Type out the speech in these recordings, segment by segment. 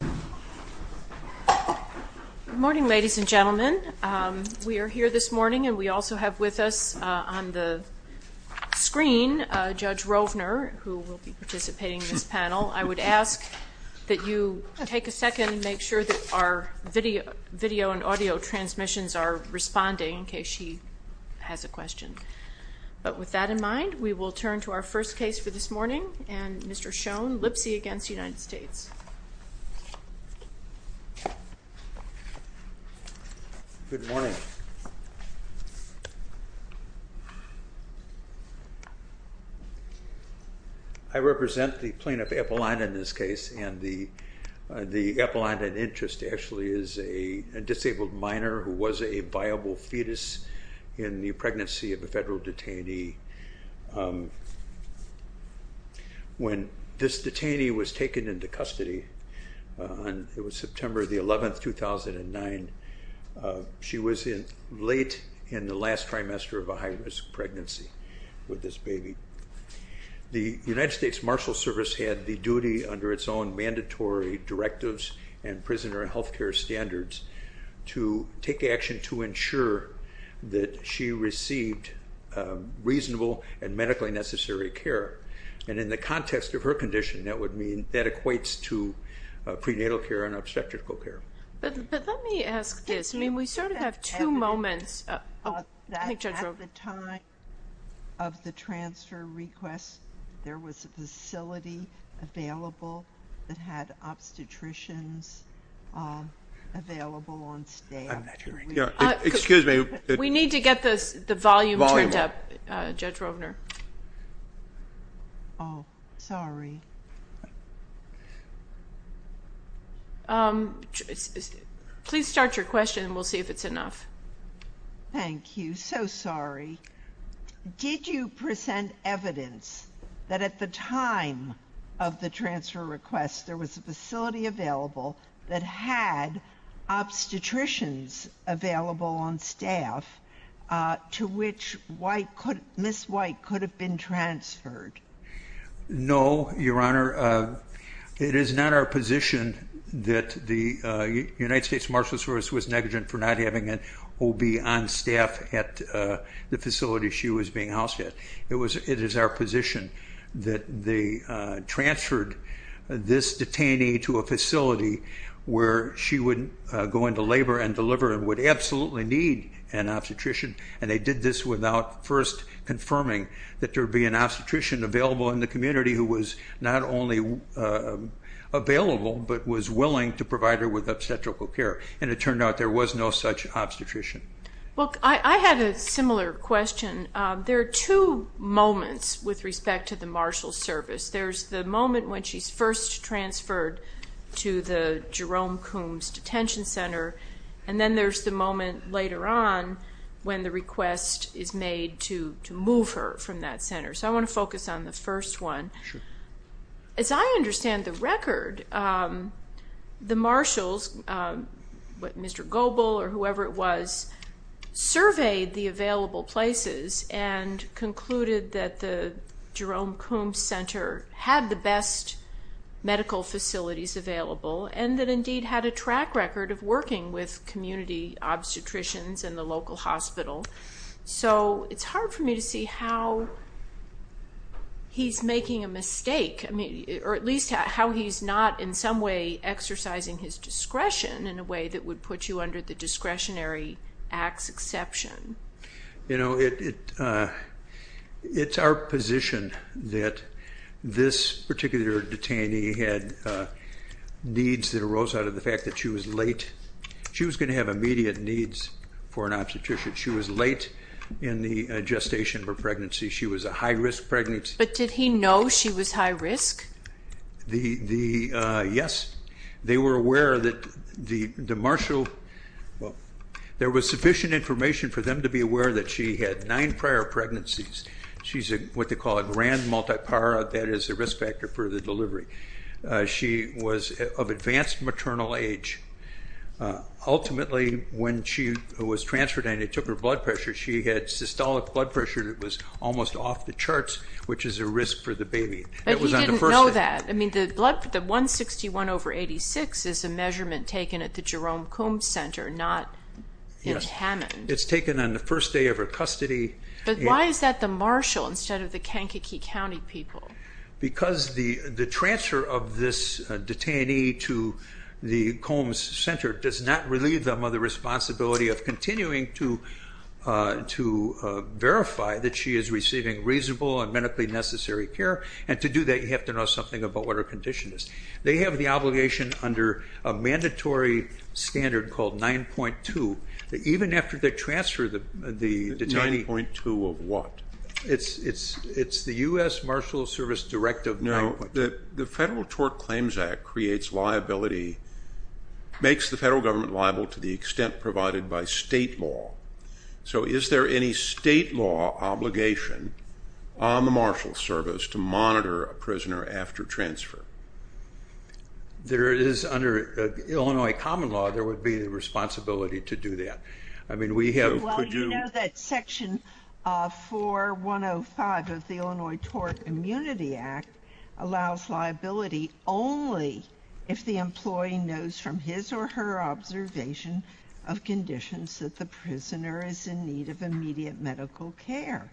Good morning, ladies and gentlemen. We are here this morning and we also have with us on the screen Judge Rovner, who will be participating in this panel. I would ask that you take a second and make sure that our video and audio transmissions are responding in case she has a question. But with that in mind, we will turn to our first case for this morning and Mr. Schoen, Lipsey v. United States. Good morning. I represent the plaintiff, Epelinda, in this case and the Epelinda in interest actually is a disabled minor who was a viable When this detainee was taken into custody, it was September 11, 2009, she was late in the last trimester of a high-risk pregnancy with this baby. The United States Marshal Service had the duty under its own mandatory directives and prisoner health care standards to take action to ensure that she received reasonable and medically necessary care and in the context of her condition, that would mean that equates to prenatal care and obstetrical care. But let me ask this, I mean we sort of have two moments. At the time of the transfer request, there was a facility available that had obstetricians available on staff. Excuse me. We need to get the volume turned up, Judge Rovner. Oh, sorry. Please start your question and we'll see if it's enough. Thank you. So sorry. Did you present evidence that at the time of the transfer request, there was a facility available that had obstetricians available on staff to which Ms. White could have been transferred? No, Your Honor. It is not our position that the United States Marshal Service was negligent for not having an OB on staff at the facility she was being housed at. It is our position that they transferred this detainee to a facility where she would go into labor and deliver and would absolutely need an obstetrician. And they did this without first confirming that there would be an obstetrician available in the community who was not only available but was willing to provide her with obstetrical care. And it turned out there was no such obstetrician. Well, I had a similar question. There are two moments with respect to the Marshal Service. There's the moment when she's first transferred to the Jerome Coombs Detention Center and then there's the moment later on when the request is made to move her from that center. So I want to focus on the first one. As I understand the record, the marshals, Mr. Goble or whoever it was, surveyed the available places and concluded that the Jerome Coombs Center had the best medical facilities available and that indeed had a track record of working with community obstetricians in the local hospital. So it's hard for me to see how he's making a mistake, or at least how he's not in some way exercising his discretion in a way that would put you under the Discretionary Acts exception. It's our position that this particular detainee had needs that arose out of the fact that she was late. She was going to have immediate needs for an obstetrician. She was late in the gestation of her pregnancy. She was a high-risk pregnant. But did he know she was high-risk? Yes. They were aware that the marshal, well, there was sufficient information for them to be aware that she had nine prior pregnancies. She's what they call a grand multipara, that is a risk factor for the delivery. She was of advanced maternal age. Ultimately, when she was transferred and they took her blood pressure, she had systolic blood pressure that was almost off the charts, which is a risk for the baby. But he didn't know that. I mean, the 161 over 86 is a measurement taken at the Jerome Coombs Center, not in Hammond. It's taken on the first day of her custody. But why is that the marshal instead of the Kankakee County people? Because the transfer of this detainee to the Coombs Center does not relieve them of the responsibility of continuing to verify that she is receiving reasonable and medically necessary care. And to do that, you have to know something about what her condition is. They have the obligation under a mandatory standard called 9.2 that even after the transfer, the detainee... 9.2 of what? It's the U.S. Marshal Service Directive 9.2. The Federal Tort Claims Act creates liability, makes the federal government liable to the extent provided by state law. So is there any state law obligation on the Marshal Service to monitor a prisoner after transfer? There is under Illinois common law, there would be the responsibility to do that. I know that Section 4105 of the Illinois Tort Immunity Act allows liability only if the employee knows from his or her observation of conditions that the prisoner is in need of immediate medical care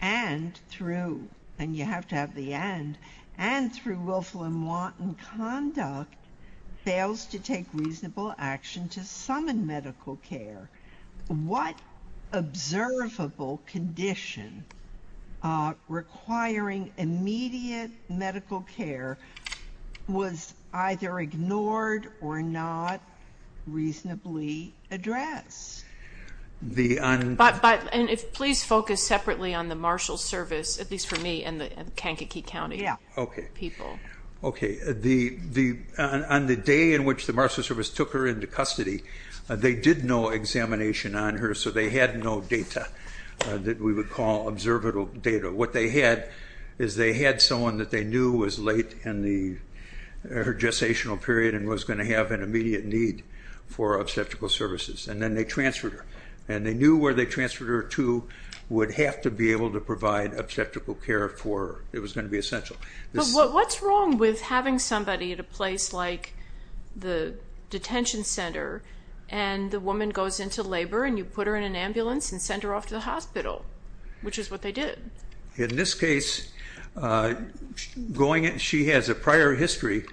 and through, and you have to have the and, and through willful and wanton conduct fails to take reasonable action to summon medical care. What observable condition requiring immediate medical care was either ignored or not reasonably addressed? But, but, and if, please focus separately on the Marshal Service, at least for me and the Kankakee County... Yeah. Okay. People. So they had no data that we would call observable data. What they had is they had someone that they knew was late in the gestational period and was going to have an immediate need for obstetrical services and then they transferred her. And they knew where they transferred her to would have to be able to provide obstetrical care for her. It was going to be essential. But what's wrong with having somebody at a place like the detention center and the labor and you put her in an ambulance and sent her off to the hospital, which is what they did. In this case, going, she has a prior history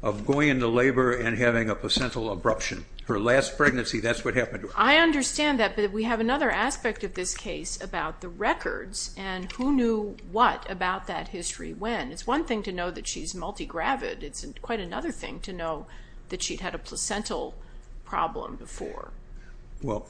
of going into labor and having a placental abruption. Her last pregnancy, that's what happened to her. I understand that, but we have another aspect of this case about the records and who knew what about that history when. It's one thing to know that she's multigravid. It's quite another thing to know that she'd had a placental problem before. Well,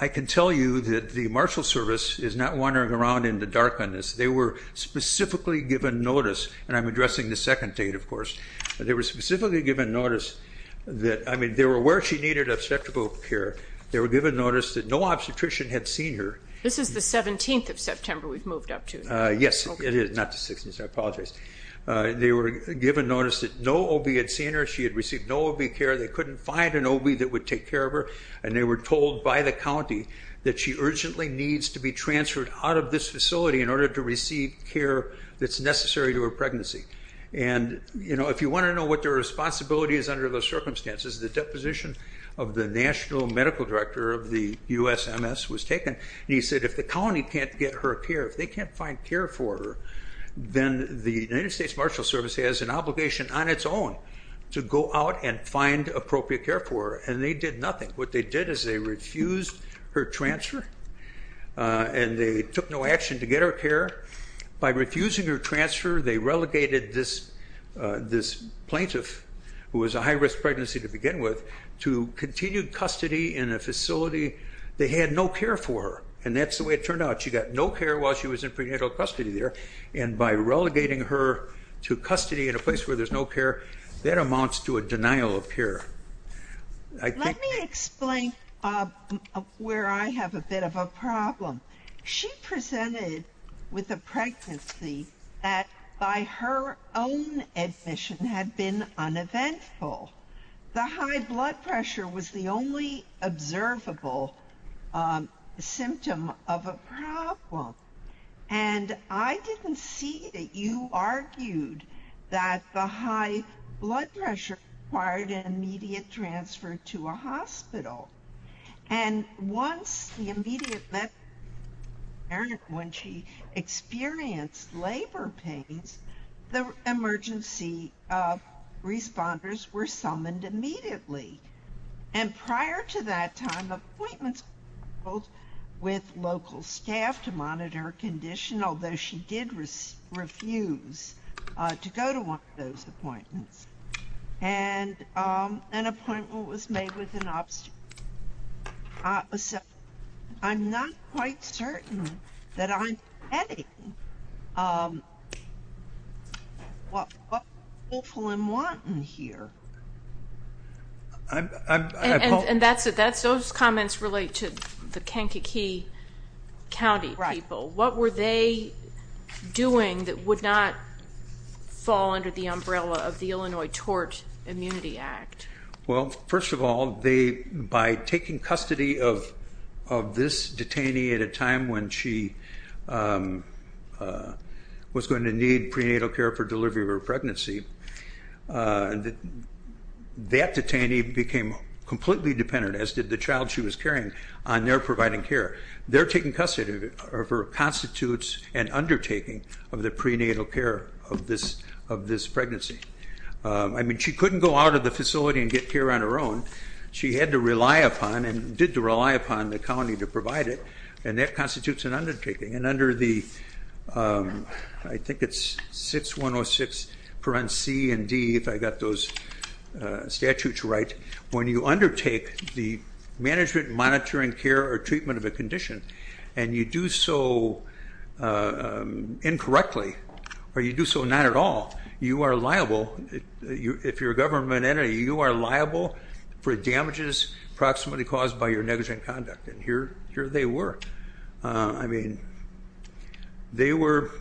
I can tell you that the marshal service is not wandering around in the darkness. They were specifically given notice, and I'm addressing the second date, of course. They were specifically given notice that, I mean, they were aware she needed obstetrical care. They were given notice that no obstetrician had seen her. This is the 17th of September we've moved up to. Yes, it is. Not the 16th. I apologize. They were given notice that no OB had seen her. She had received no OB care. They were told by the county that she urgently needs to be transferred out of this facility in order to receive care that's necessary to her pregnancy. If you want to know what their responsibility is under those circumstances, the deposition of the national medical director of the USMS was taken. He said if the county can't get her care, if they can't find care for her, then the United States Marshal Service has an obligation on its own to go out and find appropriate care for her, and they did nothing. What they did is they refused her transfer, and they took no action to get her care. By refusing her transfer, they relegated this plaintiff, who was a high-risk pregnancy to begin with, to continued custody in a facility. They had no care for her, and that's the way it turned out. She got no care while she was in prenatal custody there, and by relegating her to custody in a place where there's no care, that amounts to a denial of care. Let me explain where I have a bit of a problem. She presented with a pregnancy that, by her own admission, had been uneventful. The high blood pressure was the only observable symptom of a problem, and I didn't see that there was anyone who argued that the high blood pressure required an immediate transfer to a hospital. And once the immediate... When she experienced labor pains, the emergency responders were summoned immediately. And prior to that time, appointments were held with local staff to monitor her condition, although she did refuse to go to one of those appointments. And an appointment was made with an obstetrician. I'm not quite certain that I'm getting what people are wanting here. And that's it. Those comments relate to the Kankakee County people. What were they doing that would not fall under the umbrella of the Illinois Tort Immunity Act? Well, first of all, by taking custody of this detainee at a time when she was going to need prenatal care for delivery of her pregnancy, that detainee became completely dependent, as did the child she was carrying, on their providing care. Their taking custody of her constitutes an undertaking of the prenatal care of this pregnancy. I mean, she couldn't go out of the facility and get care on her own. She had to rely upon, and did rely upon, the county to provide it, and that constitutes an undertaking. And under the, I think it's 6106 parents C and D, if I got those statutes right, when you undertake the management, monitoring, care, or treatment of a condition, and you do so incorrectly, or you do so not at all, you are liable, if you're a government entity, you are liable for damages approximately caused by your negligent conduct. And here they were. I mean, they were,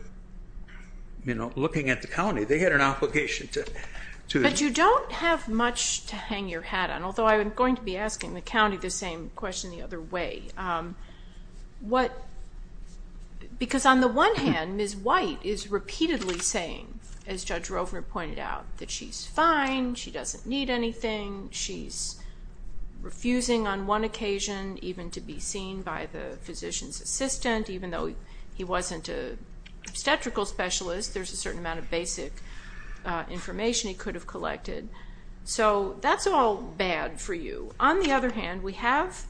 you know, looking at the county. They had an obligation to. But you don't have much to hang your hat on, although I am going to be asking the county the same question the other way. Because on the one hand, Ms. White is repeatedly saying, as Judge Rovner pointed out, that she's fine, she doesn't need anything, she's refusing on one occasion even to be seen by the physician's assistant, even though he wasn't an obstetrical specialist, there's a certain amount of basic information he could have collected. So that's all bad for you. On the other hand, we have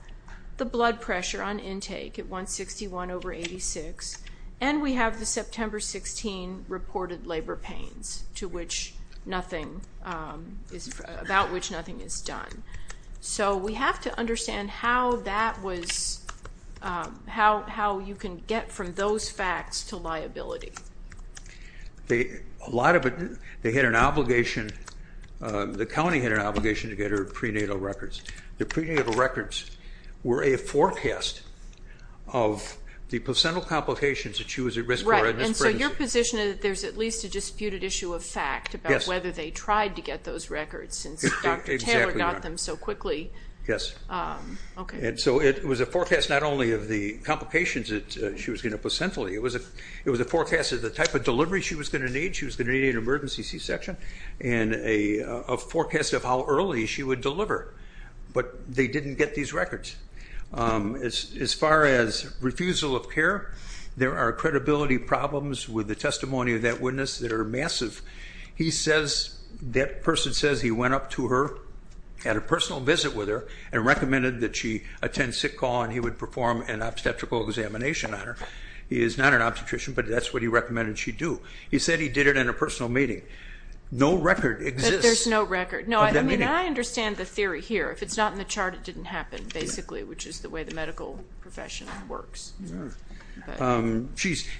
the blood pressure on intake at 161 over 86, and we have the September 16 reported labor pains, about which nothing is done. So we have to understand how you can get from those facts to liability. A lot of it, they had an obligation, the county had an obligation to get her prenatal records. The prenatal records were a forecast of the placental complications that she was at risk for. Right. And so your position is that there's at least a disputed issue of fact about whether they tried to get those records since Dr. Taylor got them so quickly. Yes. Okay. And so it was a forecast not only of the complications that she was getting placentally, it was a forecast of the type of delivery she was going to need, she was going to need an emergency C-section, and a forecast of how early she would deliver. But they didn't get these records. As far as refusal of care, there are credibility problems with the testimony of that witness that are massive. He says that person says he went up to her, had a personal visit with her, and recommended that she attend sick call and he would perform an obstetrical examination on her. He is not an obstetrician, but that's what he recommended she do. He said he did it in a personal meeting. No record exists. There's no record. No, I mean, I understand the theory here. If it's not in the chart, it didn't happen, basically, which is the way the medical profession works. And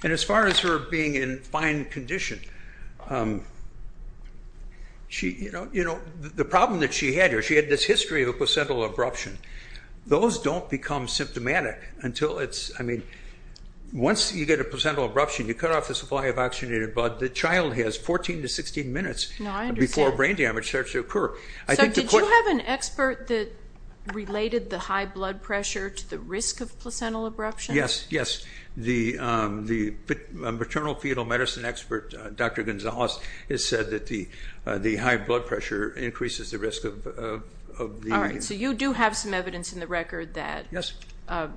as far as her being in fine condition, the problem that she had here, she had this history of a placental abruption. Those don't become symptomatic until it's, I mean, once you get a placental abruption, you cut off the supply of oxygenated blood. The child has 14 to 16 minutes before brain damage starts to occur. So did you have an expert that related the high blood pressure to the risk of placental abruption? Yes, yes. The maternal fetal medicine expert, Dr. Gonzalez, So you do have some evidence in the record that a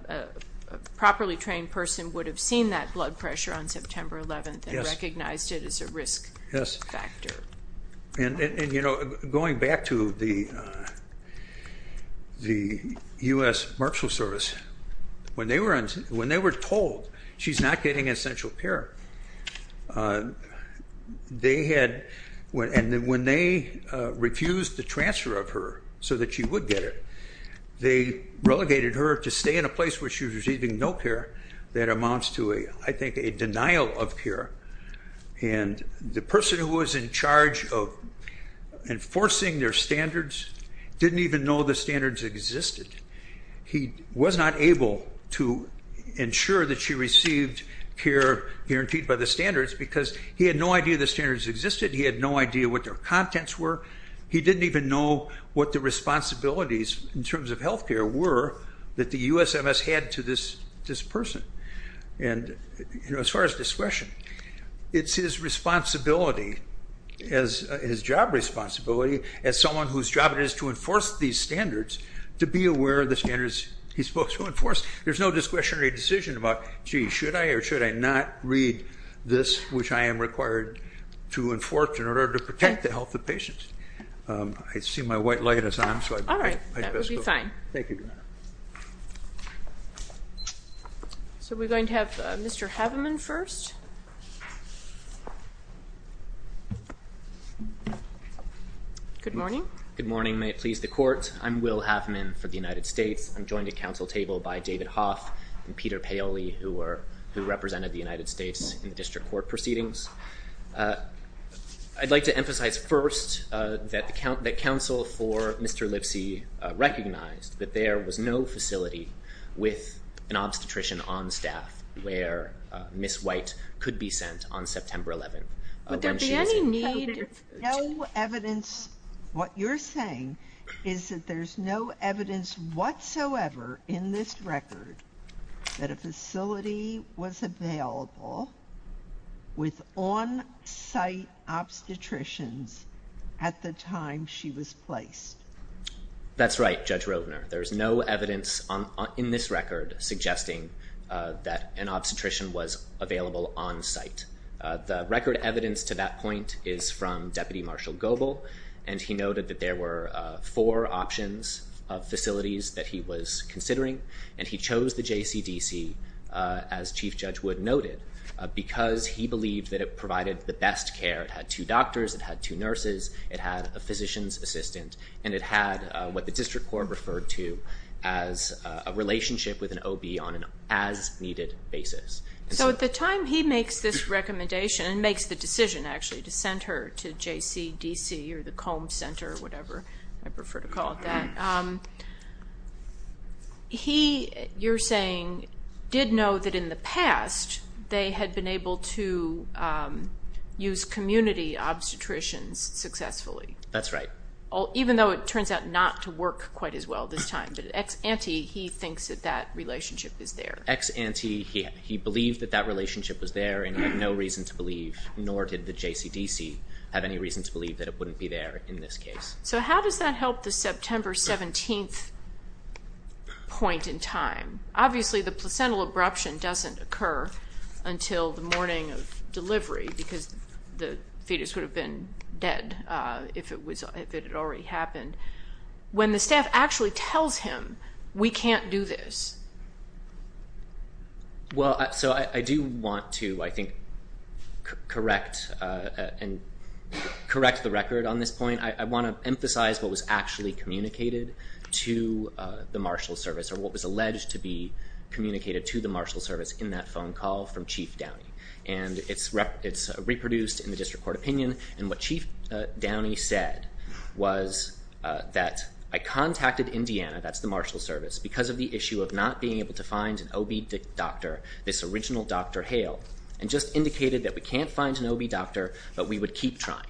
properly trained person would have seen that blood pressure on September 11th and recognized it as a risk factor. Yes. And, you know, going back to the U.S. Marshals Service, when they were told she's not getting essential care, and when they refused the transfer of her so that she would get it, they relegated her to stay in a place where she was receiving no care. That amounts to, I think, a denial of care. And the person who was in charge of enforcing their standards didn't even know the standards existed. He was not able to ensure that she received care guaranteed by the standards because he had no idea the standards existed. He had no idea what their contents were. He didn't even know what the responsibilities in terms of health care were that the USMS had to this person. And, you know, as far as discretion, it's his responsibility, his job responsibility, as someone whose job it is to enforce these standards, to be aware of the standards he's supposed to enforce. There's no discretionary decision about, gee, should I or should I not read this, which I am required to enforce in order to protect the health of patients. I see my white light is on. All right. That would be fine. Thank you, Your Honor. So we're going to have Mr. Haveman first. Good morning. Good morning. May it please the Court. I'm Will Haveman for the United States. I'm joined at council table by David Hoff and Peter Paoli, who represented the United States in the district court proceedings. I'd like to emphasize first that the council for Mr. Lipsy recognized that there was no facility with an obstetrician on staff where Ms. White could be sent on September 11th. Would there be any need? No evidence. What you're saying is that there's no evidence whatsoever in this record that a facility was available with on-site obstetricians at the time she was placed. That's right, Judge Rovner. There's no evidence in this record suggesting that an obstetrician was available on-site. The record evidence to that point is from Deputy Marshall Goble, and he noted that there were four options of facilities that he was considering, and he chose the JCDC, as Chief Judge Wood noted, because he believed that it provided the best care. It had two doctors. It had two nurses. It had a physician's assistant, and it had what the district court referred to as a relationship with an OB on an as-needed basis. So at the time he makes this recommendation, and makes the decision actually to send her to JCDC or the Combs Center or whatever, I prefer to call it that, he, you're saying, did know that in the past they had been able to use community obstetricians successfully. That's right. Even though it turns out not to work quite as well this time. But ex-ante, he thinks that that relationship is there. Ex-ante, he believed that that relationship was there, and he had no reason to believe, nor did the JCDC have any reason to believe that it wouldn't be there in this case. So how does that help the September 17th point in time? Obviously, the placental abruption doesn't occur until the morning of delivery, because the fetus would have been dead if it had already happened. When the staff actually tells him, we can't do this. Well, so I do want to, I think, correct and correct the record on this point. I want to emphasize what was actually communicated to the marshal service, or what was alleged to be communicated to the marshal service in that phone call from Chief Downey. And it's reproduced in the district court opinion. And what Chief Downey said was that I contacted Indiana, that's the marshal service, because of the issue of not being able to find an OB doctor, this original Dr. Hale, and just indicated that we can't find an OB doctor, but we would keep trying.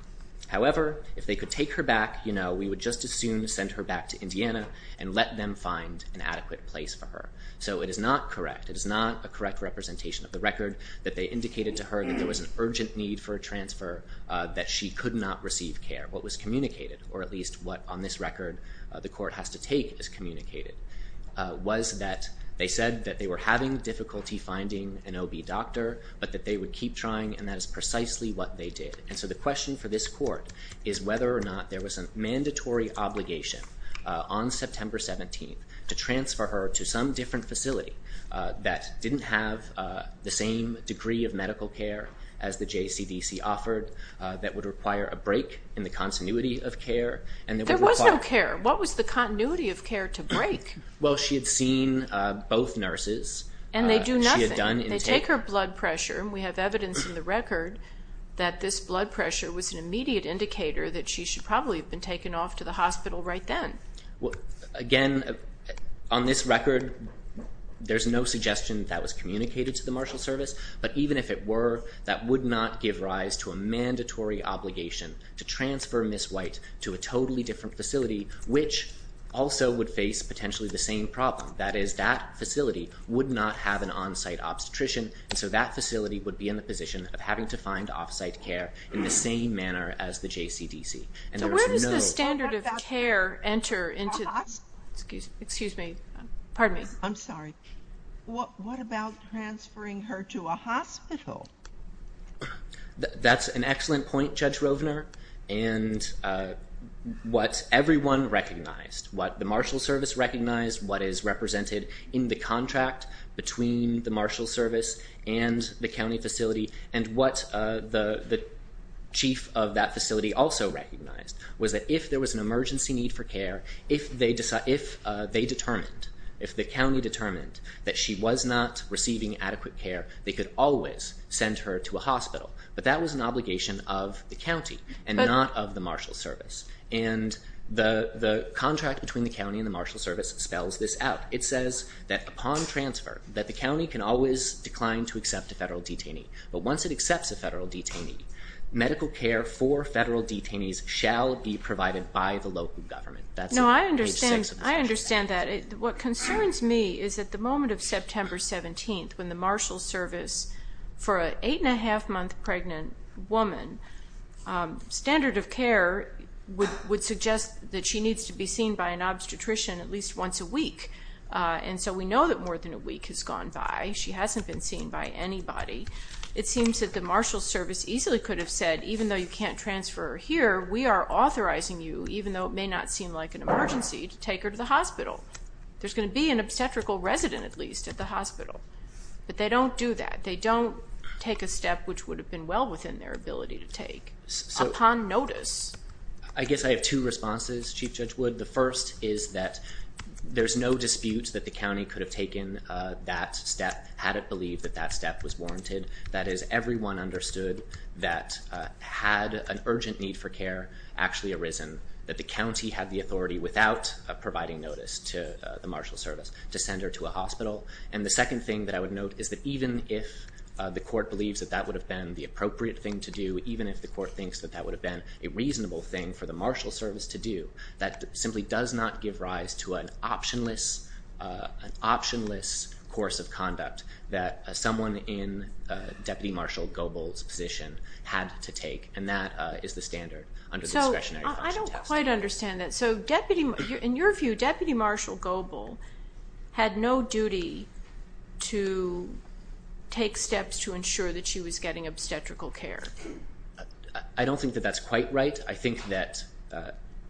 However, if they could take her back, you know, we would just as soon send her back to Indiana and let them find an adequate place for her. So it is not correct. It is not a correct representation of the record that they indicated to her that there was an urgent need for a transfer, that she could not receive care. What was communicated, or at least what, on this record, the court has to take as communicated, was that they said that they were having difficulty finding an OB doctor, but that they would keep trying, and that is precisely what they did. And so the question for this court is whether or not there was a mandatory obligation on September 17th to transfer her to some different facility. That didn't have the same degree of medical care as the JCDC offered, that would require a break in the continuity of care. There was no care. What was the continuity of care to break? Well, she had seen both nurses. And they do nothing. She had done intake. They take her blood pressure, and we have evidence in the record that this blood pressure was an immediate indicator that she should probably have been taken off to the hospital right then. Again, on this record, there's no suggestion that was communicated to the Marshal Service. But even if it were, that would not give rise to a mandatory obligation to transfer Ms. White to a totally different facility, which also would face potentially the same problem. That is, that facility would not have an on-site obstetrician, and so that facility would be in the position of having to find off-site care in the same manner as the JCDC. So where does the standard of care enter into this? Excuse me. Pardon me. I'm sorry. What about transferring her to a hospital? That's an excellent point, Judge Rovner. And what everyone recognized, what the Marshal Service recognized, what is represented in the contract between the Marshal Service and the county facility, and what the chief of that facility also recognized was that if there was an emergency need for care, if they determined, if the county determined that she was not receiving adequate care, they could always send her to a hospital. But that was an obligation of the county and not of the Marshal Service. And the contract between the county and the Marshal Service spells this out. It says that upon transfer that the county can always decline to accept a federal detainee. But once it accepts a federal detainee, medical care for federal detainees shall be provided by the local government. That's page 6 of the statute. What concerns me is that the moment of September 17th, when the Marshal Service, for an eight-and-a-half-month pregnant woman, standard of care would suggest that she needs to be seen by an obstetrician at least once a week. And so we know that more than a week has gone by. She hasn't been seen by anybody. It seems that the Marshal Service easily could have said, even though you can't transfer her here, we are authorizing you, even though it may not seem like an emergency, to take her to the hospital. There's going to be an obstetrical resident at least at the hospital. But they don't do that. They don't take a step which would have been well within their ability to take. Upon notice. I guess I have two responses, Chief Judge Wood. The first is that there's no dispute that the county could have taken that step had it believed that that step was warranted. That is, everyone understood that had an urgent need for care actually arisen, that the county had the authority without providing notice to the Marshal Service to send her to a hospital. And the second thing that I would note is that even if the court believes that that would have been the appropriate thing to do, even if the court thinks that that would have been a reasonable thing for the Marshal Service to do, that simply does not give rise to an optionless course of conduct that someone in Deputy Marshal Goebel's position had to take. And that is the standard under the discretionary function test. So I don't quite understand that. So in your view, Deputy Marshal Goebel had no duty to take steps to ensure that she was getting obstetrical care. I don't think that that's quite right. But I think that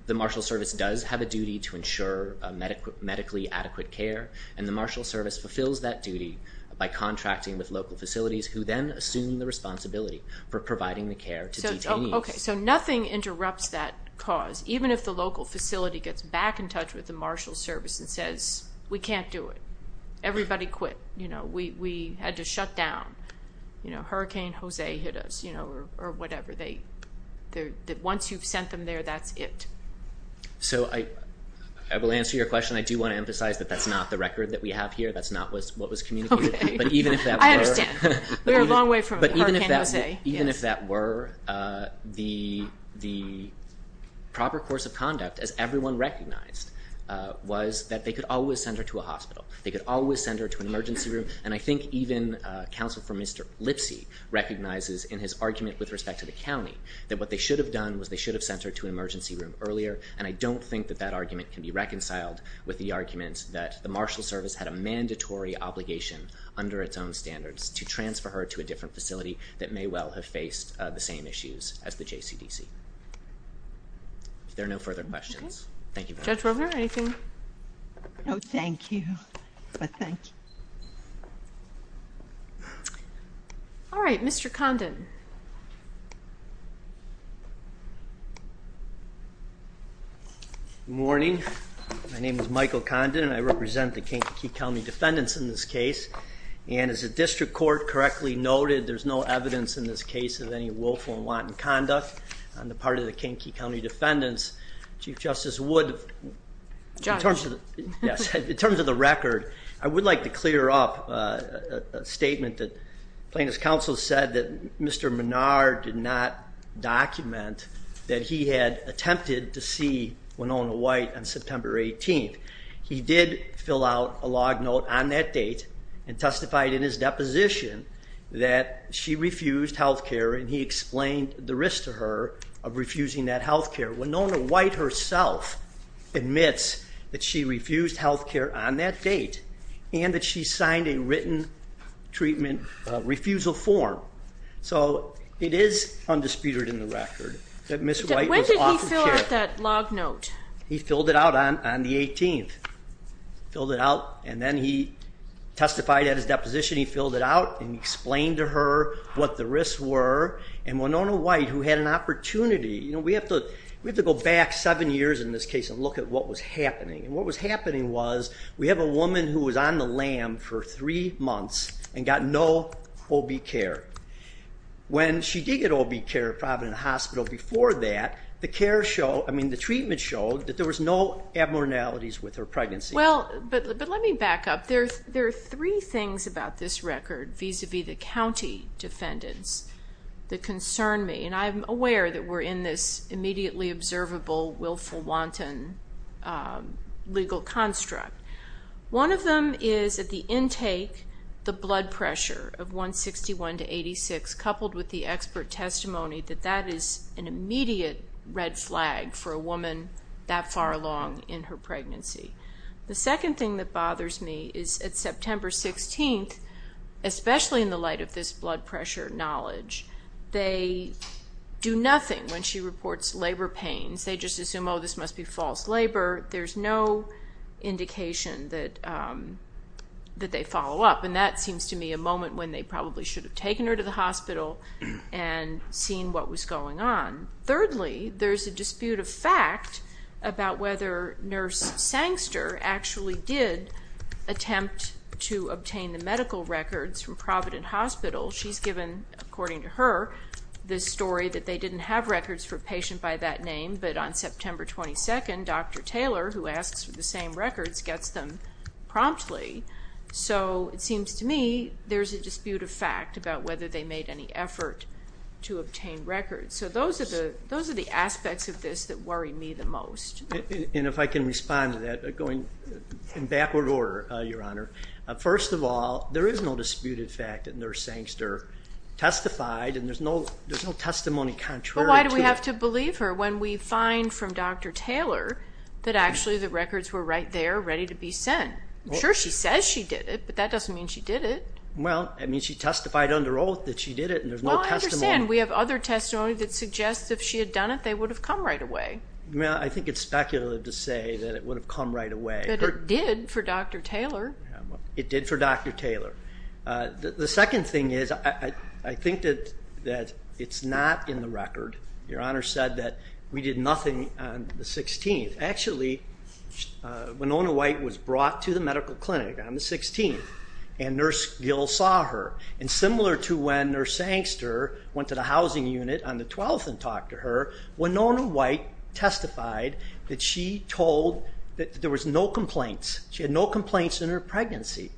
the Marshal Service does have a duty to ensure medically adequate care, and the Marshal Service fulfills that duty by contracting with local facilities, who then assume the responsibility for providing the care to detainees. Okay, so nothing interrupts that cause. Even if the local facility gets back in touch with the Marshal Service and says, We can't do it. Everybody quit. We had to shut down. Hurricane Jose hit us, or whatever. Once you've sent them there, that's it. So I will answer your question. I do want to emphasize that that's not the record that we have here. That's not what was communicated. Okay. I understand. We're a long way from Hurricane Jose. Even if that were, the proper course of conduct, as everyone recognized, was that they could always send her to a hospital. They could always send her to an emergency room. And I think even counsel for Mr. Lipsy recognizes in his argument with respect to the county that what they should have done was they should have sent her to an emergency room earlier. And I don't think that that argument can be reconciled with the argument that the Marshal Service had a mandatory obligation under its own standards to transfer her to a different facility that may well have faced the same issues as the JCDC. If there are no further questions, thank you very much. Judge Rogler, anything? No, thank you. But thank you. All right. Mr. Condon. Good morning. My name is Michael Condon, and I represent the Kankakee County defendants in this case. And as the district court correctly noted, there's no evidence in this case of any willful and wanton conduct on the part of the Kankakee County defendants. Chief Justice Wood, in terms of the record, I would like to clear up a statement that plaintiff's counsel said that Mr. Menard did not document that he had attempted to see Winona White on September 18th. He did fill out a log note on that date and testified in his deposition that she refused health care, and he explained the risk to her of refusing that health care. Winona White herself admits that she refused health care on that date and that she signed a written treatment refusal form. So it is undisputed in the record that Ms. White was offered care. When did he fill out that log note? He filled it out on the 18th. He filled it out, and then he testified at his deposition. He filled it out and explained to her what the risks were. And Winona White, who had an opportunity, you know, we have to go back seven years in this case and look at what was happening. And what was happening was we have a woman who was on the LAM for three months and got no OB care. When she did get OB care at Providence Hospital before that, the care showed, I mean the treatment showed that there was no abnormalities with her pregnancy. Well, but let me back up. There are three things about this record vis-à-vis the county defendants that concern me, and I'm aware that we're in this immediately observable, willful, wanton legal construct. One of them is at the intake, the blood pressure of 161 to 86, coupled with the expert testimony that that is an immediate red flag for a woman that far along in her pregnancy. The second thing that bothers me is at September 16th, especially in the light of this blood pressure knowledge, they do nothing when she reports labor pains. They just assume, oh, this must be false labor. There's no indication that they follow up, and that seems to me a moment when they probably should have taken her to the hospital and seen what was going on. Thirdly, there's a dispute of fact about whether Nurse Sangster actually did attempt to obtain the medical records from Providence Hospital. She's given, according to her, the story that they didn't have records for a patient by that name, but on September 22nd, Dr. Taylor, who asks for the same records, gets them promptly. So it seems to me there's a dispute of fact about whether they made any effort to obtain records. So those are the aspects of this that worry me the most. And if I can respond to that, going in backward order, Your Honor. First of all, there is no disputed fact that Nurse Sangster testified, and there's no testimony contrary to that. But why do we have to believe her when we find from Dr. Taylor that actually the records were right there, ready to be sent? I'm sure she says she did it, but that doesn't mean she did it. Well, I mean, she testified under oath that she did it, and there's no testimony. Well, I understand. We have other testimony that suggests if she had done it, they would have come right away. Well, I think it's speculative to say that it would have come right away. But it did for Dr. Taylor. It did for Dr. Taylor. The second thing is I think that it's not in the record. Your Honor said that we did nothing on the 16th. Actually, Winona White was brought to the medical clinic on the 16th, and Nurse Gill saw her. And similar to when Nurse Sangster went to the housing unit on the 12th and talked to her, Winona White testified that she told that there was no complaints. She had no complaints in her pregnancy.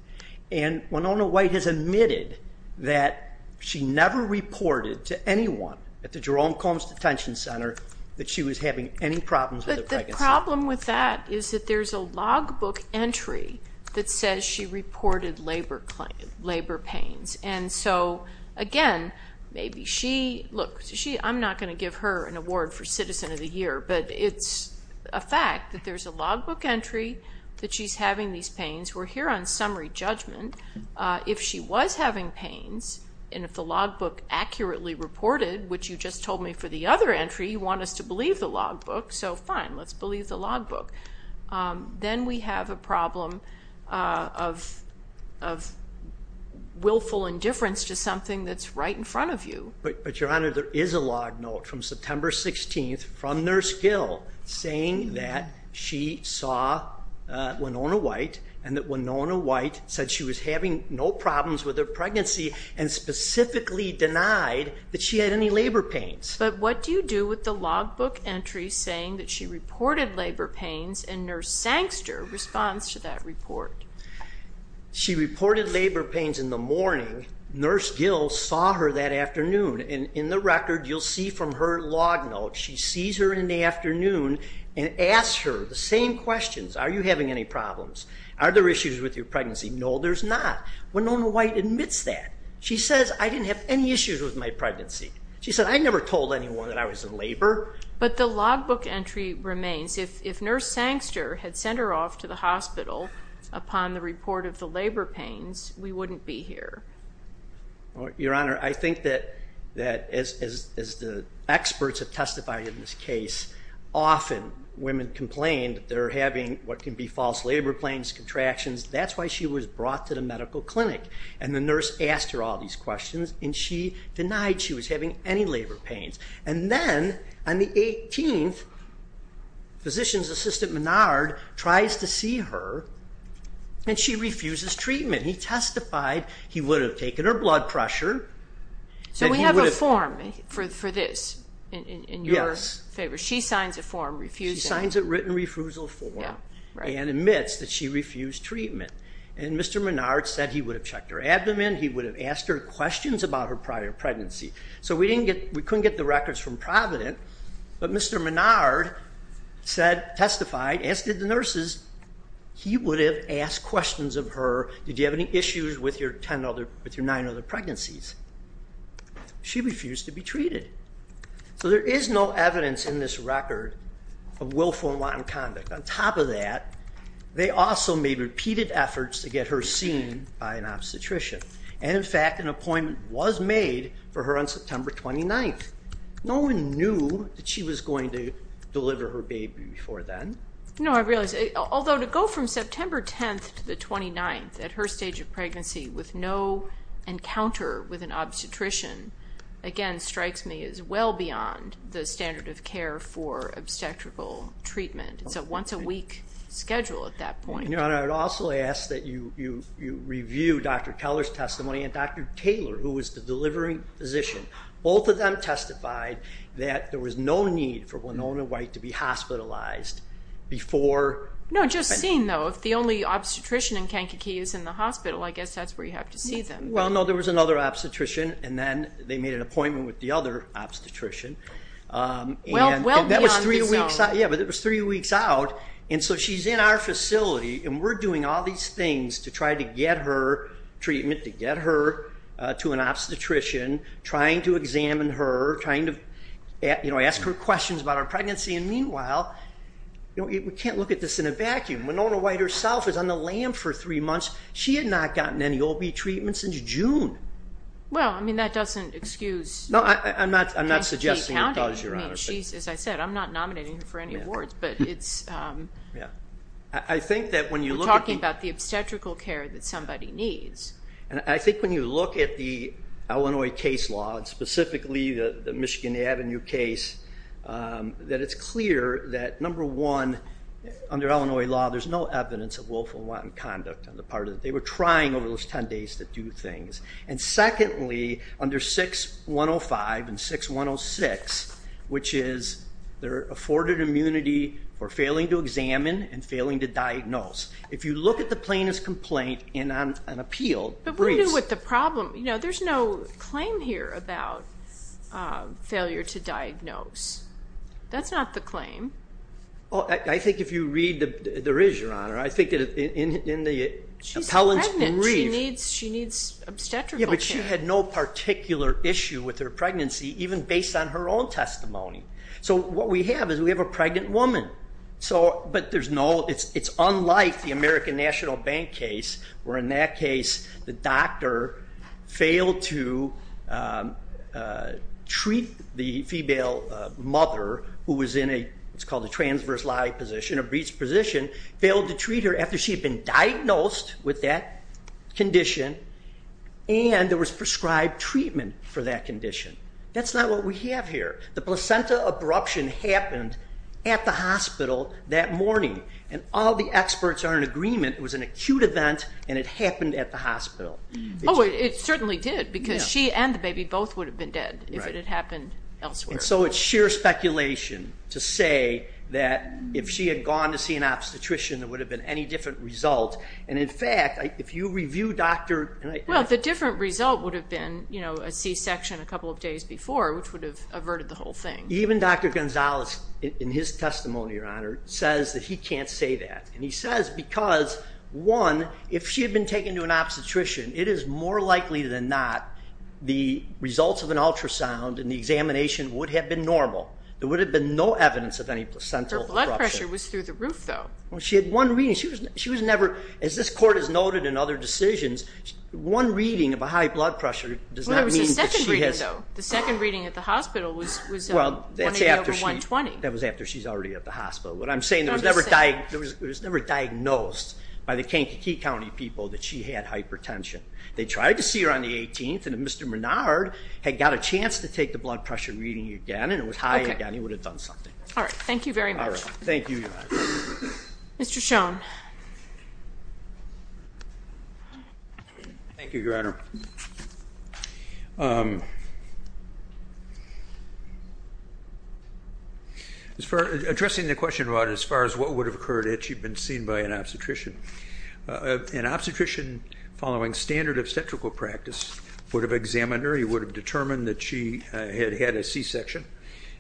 And Winona White has admitted that she never reported to anyone at the Jerome Combs Detention Center that she was having any problems with her pregnancy. But the problem with that is that there's a logbook entry that says she reported labor pains. And so, again, look, I'm not going to give her an award for Citizen of the Year, but it's a fact that there's a logbook entry that she's having these pains. We're here on summary judgment. If she was having pains and if the logbook accurately reported, which you just told me for the other entry, you want us to believe the logbook, so fine, let's believe the logbook. Then we have a problem of willful indifference to something that's right in front of you. But, Your Honor, there is a log note from September 16th from Nurse Gill saying that she saw Winona White and that Winona White said she was having no problems with her pregnancy and specifically denied that she had any labor pains. But what do you do with the logbook entry saying that she reported labor pains and Nurse Sangster responds to that report? She reported labor pains in the morning. Nurse Gill saw her that afternoon. And in the record, you'll see from her log note, she sees her in the afternoon and asks her the same questions. Are you having any problems? Are there issues with your pregnancy? No, there's not. Winona White admits that. She says, I didn't have any issues with my pregnancy. She said, I never told anyone that I was in labor. But the logbook entry remains. If Nurse Sangster had sent her off to the hospital upon the report of the labor pains, we wouldn't be here. Your Honor, I think that as the experts have testified in this case, often women complain that they're having what can be false labor pains, contractions. That's why she was brought to the medical clinic. And the nurse asked her all these questions. And she denied she was having any labor pains. And then on the 18th, Physician's Assistant Menard tries to see her. And she refuses treatment. He testified he would have taken her blood pressure. So we have a form for this in your favor. She signs a form refusing. She signs a written refusal form and admits that she refused treatment. And Mr. Menard said he would have checked her abdomen. He would have asked her questions about her prior pregnancy. So we couldn't get the records from Provident. But Mr. Menard testified, as did the nurses, he would have asked questions of her. Did you have any issues with your nine other pregnancies? She refused to be treated. So there is no evidence in this record of willful and wanton conduct. On top of that, they also made repeated efforts to get her seen by an obstetrician. And, in fact, an appointment was made for her on September 29th. No one knew that she was going to deliver her baby before then. No, I realize. Although to go from September 10th to the 29th at her stage of pregnancy with no encounter with an obstetrician, again, strikes me as well beyond the standard of care for obstetrical treatment. It's a once-a-week schedule at that point. Your Honor, I would also ask that you review Dr. Keller's testimony and Dr. Taylor, who was the delivering physician. Both of them testified that there was no need for Winona White to be hospitalized before. No, just seeing, though, if the only obstetrician in Kankakee is in the hospital, I guess that's where you have to see them. Well, no, there was another obstetrician, and then they made an appointment with the other obstetrician. Well beyond the zone. Yeah, but it was three weeks out, and so she's in our facility, and we're doing all these things to try to get her treatment, to get her to an obstetrician, trying to examine her, trying to ask her questions about her pregnancy. And meanwhile, we can't look at this in a vacuum. Winona White herself is on the lam for three months. She had not gotten any OB treatment since June. Well, I mean, that doesn't excuse Kankakee County. No, I'm not suggesting a cause, Your Honor. I mean, she's, as I said, I'm not nominating her for any awards, but it's... Yeah. I think that when you look at... We're talking about the obstetrical care that somebody needs. And I think when you look at the Illinois case law, and specifically the Michigan Avenue case, that it's clear that, number one, under Illinois law, there's no evidence of willful and wanton conduct on the part of... They were trying over those 10 days to do things. And secondly, under 6105 and 6106, which is their afforded immunity for failing to examine and failing to diagnose. If you look at the plaintiff's complaint in an appeal... But we're dealing with the problem. You know, there's no claim here about failure to diagnose. That's not the claim. I think if you read... There is, Your Honor. I think that in the appellant's brief... She's pregnant. She needs obstetrical care. Yeah, but she had no particular issue with her pregnancy, even based on her own testimony. So what we have is we have a pregnant woman. But there's no... It's unlike the American National Bank case where, in that case, the doctor failed to treat the female mother who was in a... It's called a transverse lie position, a breech position. after she had been diagnosed with that condition and there was prescribed treatment for that condition. That's not what we have here. The placenta abruption happened at the hospital that morning, and all the experts are in agreement it was an acute event and it happened at the hospital. Oh, it certainly did because she and the baby both would have been dead if it had happened elsewhere. And so it's sheer speculation to say that if she had gone to see an obstetrician there would have been any different result. And, in fact, if you review Dr.... Well, the different result would have been a C-section a couple of days before, which would have averted the whole thing. Even Dr. Gonzalez, in his testimony, Your Honor, says that he can't say that. And he says because, one, if she had been taken to an obstetrician, it is more likely than not the results of an ultrasound and the examination would have been normal. There would have been no evidence of any placental abruption. Her blood pressure was through the roof, though. Well, she had one reading. She was never, as this Court has noted in other decisions, one reading of a high blood pressure does not mean that she has... Well, there was a second reading, though. The second reading at the hospital was a 180 over 120. That was after she's already at the hospital. What I'm saying, it was never diagnosed by the Kankakee County people that she had hypertension. They tried to see her on the 18th, and if Mr. Menard had got a chance to take the blood pressure reading again and it was high again, he would have done something. All right, thank you very much. Thank you, Your Honor. Mr. Schoen. Thank you, Your Honor. Addressing the question about as far as what would have occurred had she been seen by an obstetrician, an obstetrician following standard obstetrical practice would have examined her. He would have determined that she had had a C-section.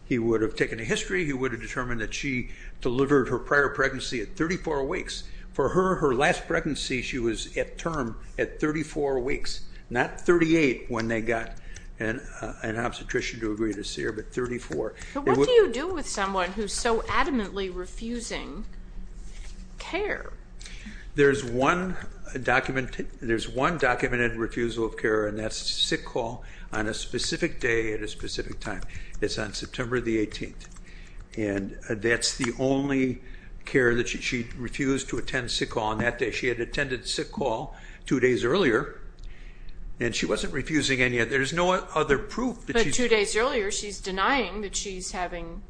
He would have taken a history. He would have determined that she delivered her prior pregnancy at 34 weeks. For her, her last pregnancy, she was at term at 34 weeks, not 38 when they got an obstetrician to agree to see her, but 34. But what do you do with someone who's so adamantly refusing care? There's one documented refusal of care, and that's a sick call on a specific day at a specific time. It's on September the 18th, and that's the only care that she refused to attend sick call on that day. She had attended sick call two days earlier, and she wasn't refusing any. There's no other proof that she's. Two days earlier, she's denying that she's having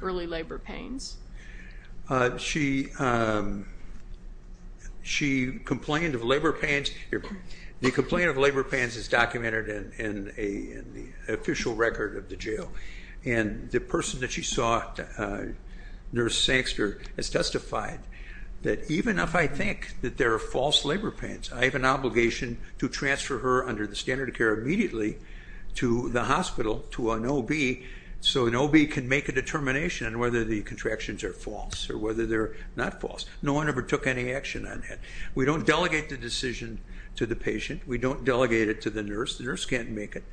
early labor pains. She complained of labor pains. The complaint of labor pains is documented in the official record of the jail, and the person that she saw, Nurse Sanxter, has testified that even if I think that there are false labor pains, I have an obligation to transfer her under the standard of care immediately to the hospital to an OB so an OB can make a determination on whether the contractions are false or whether they're not false. No one ever took any action on that. We don't delegate the decision to the patient. We don't delegate it to the nurse. The nurse can't make it.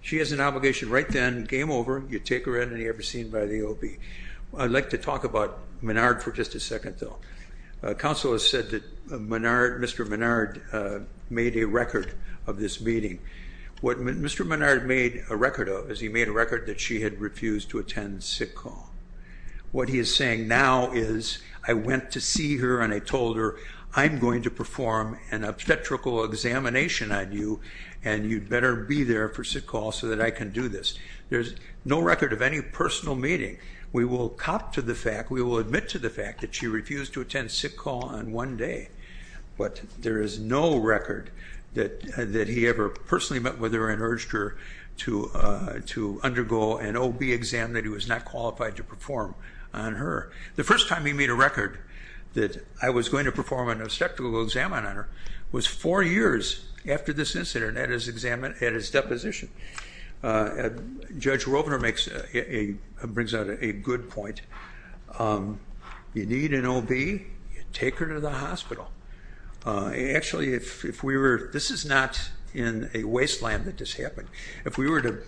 She has an obligation right then, game over, you take her in, and you have her seen by the OB. I'd like to talk about Menard for just a second, though. Counsel has said that Menard, Mr. Menard, made a record of this meeting. What Mr. Menard made a record of is he made a record that she had refused to attend sick call. What he is saying now is I went to see her and I told her, I'm going to perform an obstetrical examination on you and you'd better be there for sick call so that I can do this. There's no record of any personal meeting. We will cop to the fact, we will admit to the fact that she refused to attend sick call on one day, but there is no record that he ever personally met with her and urged her to undergo an OB exam that he was not qualified to perform on her. The first time he made a record that I was going to perform an obstetrical exam on her was four years after this incident at his deposition. Judge Rovner brings out a good point. You need an OB, you take her to the hospital. Actually, this is not in a wasteland that this happened. If we were to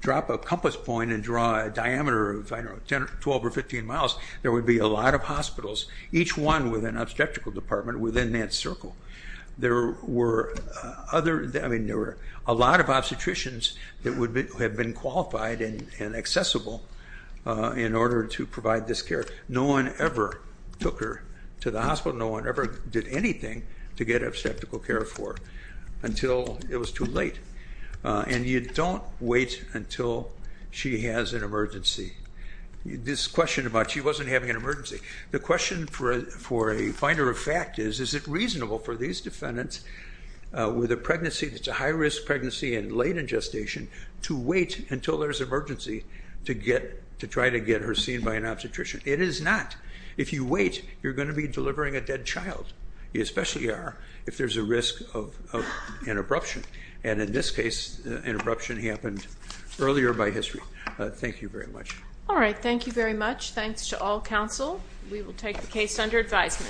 drop a compass point and draw a diameter of 12 or 15 miles, there would be a lot of hospitals, each one with an obstetrical department within that circle. There were a lot of obstetricians that would have been qualified and accessible in order to provide this care. No one ever took her to the hospital. No one ever did anything to get obstetrical care for her until it was too late. And you don't wait until she has an emergency. This question about she wasn't having an emergency, the question for a finder of fact is, is it reasonable for these defendants with a pregnancy that's a high-risk pregnancy and late in gestation to wait until there's an emergency to try to get her seen by an obstetrician? It is not. If you wait, you're going to be delivering a dead child. You especially are if there's a risk of an abruption. And in this case, an abruption happened earlier by history. Thank you very much. All right, thank you very much. Thanks to all counsel. We will take the case under advisement.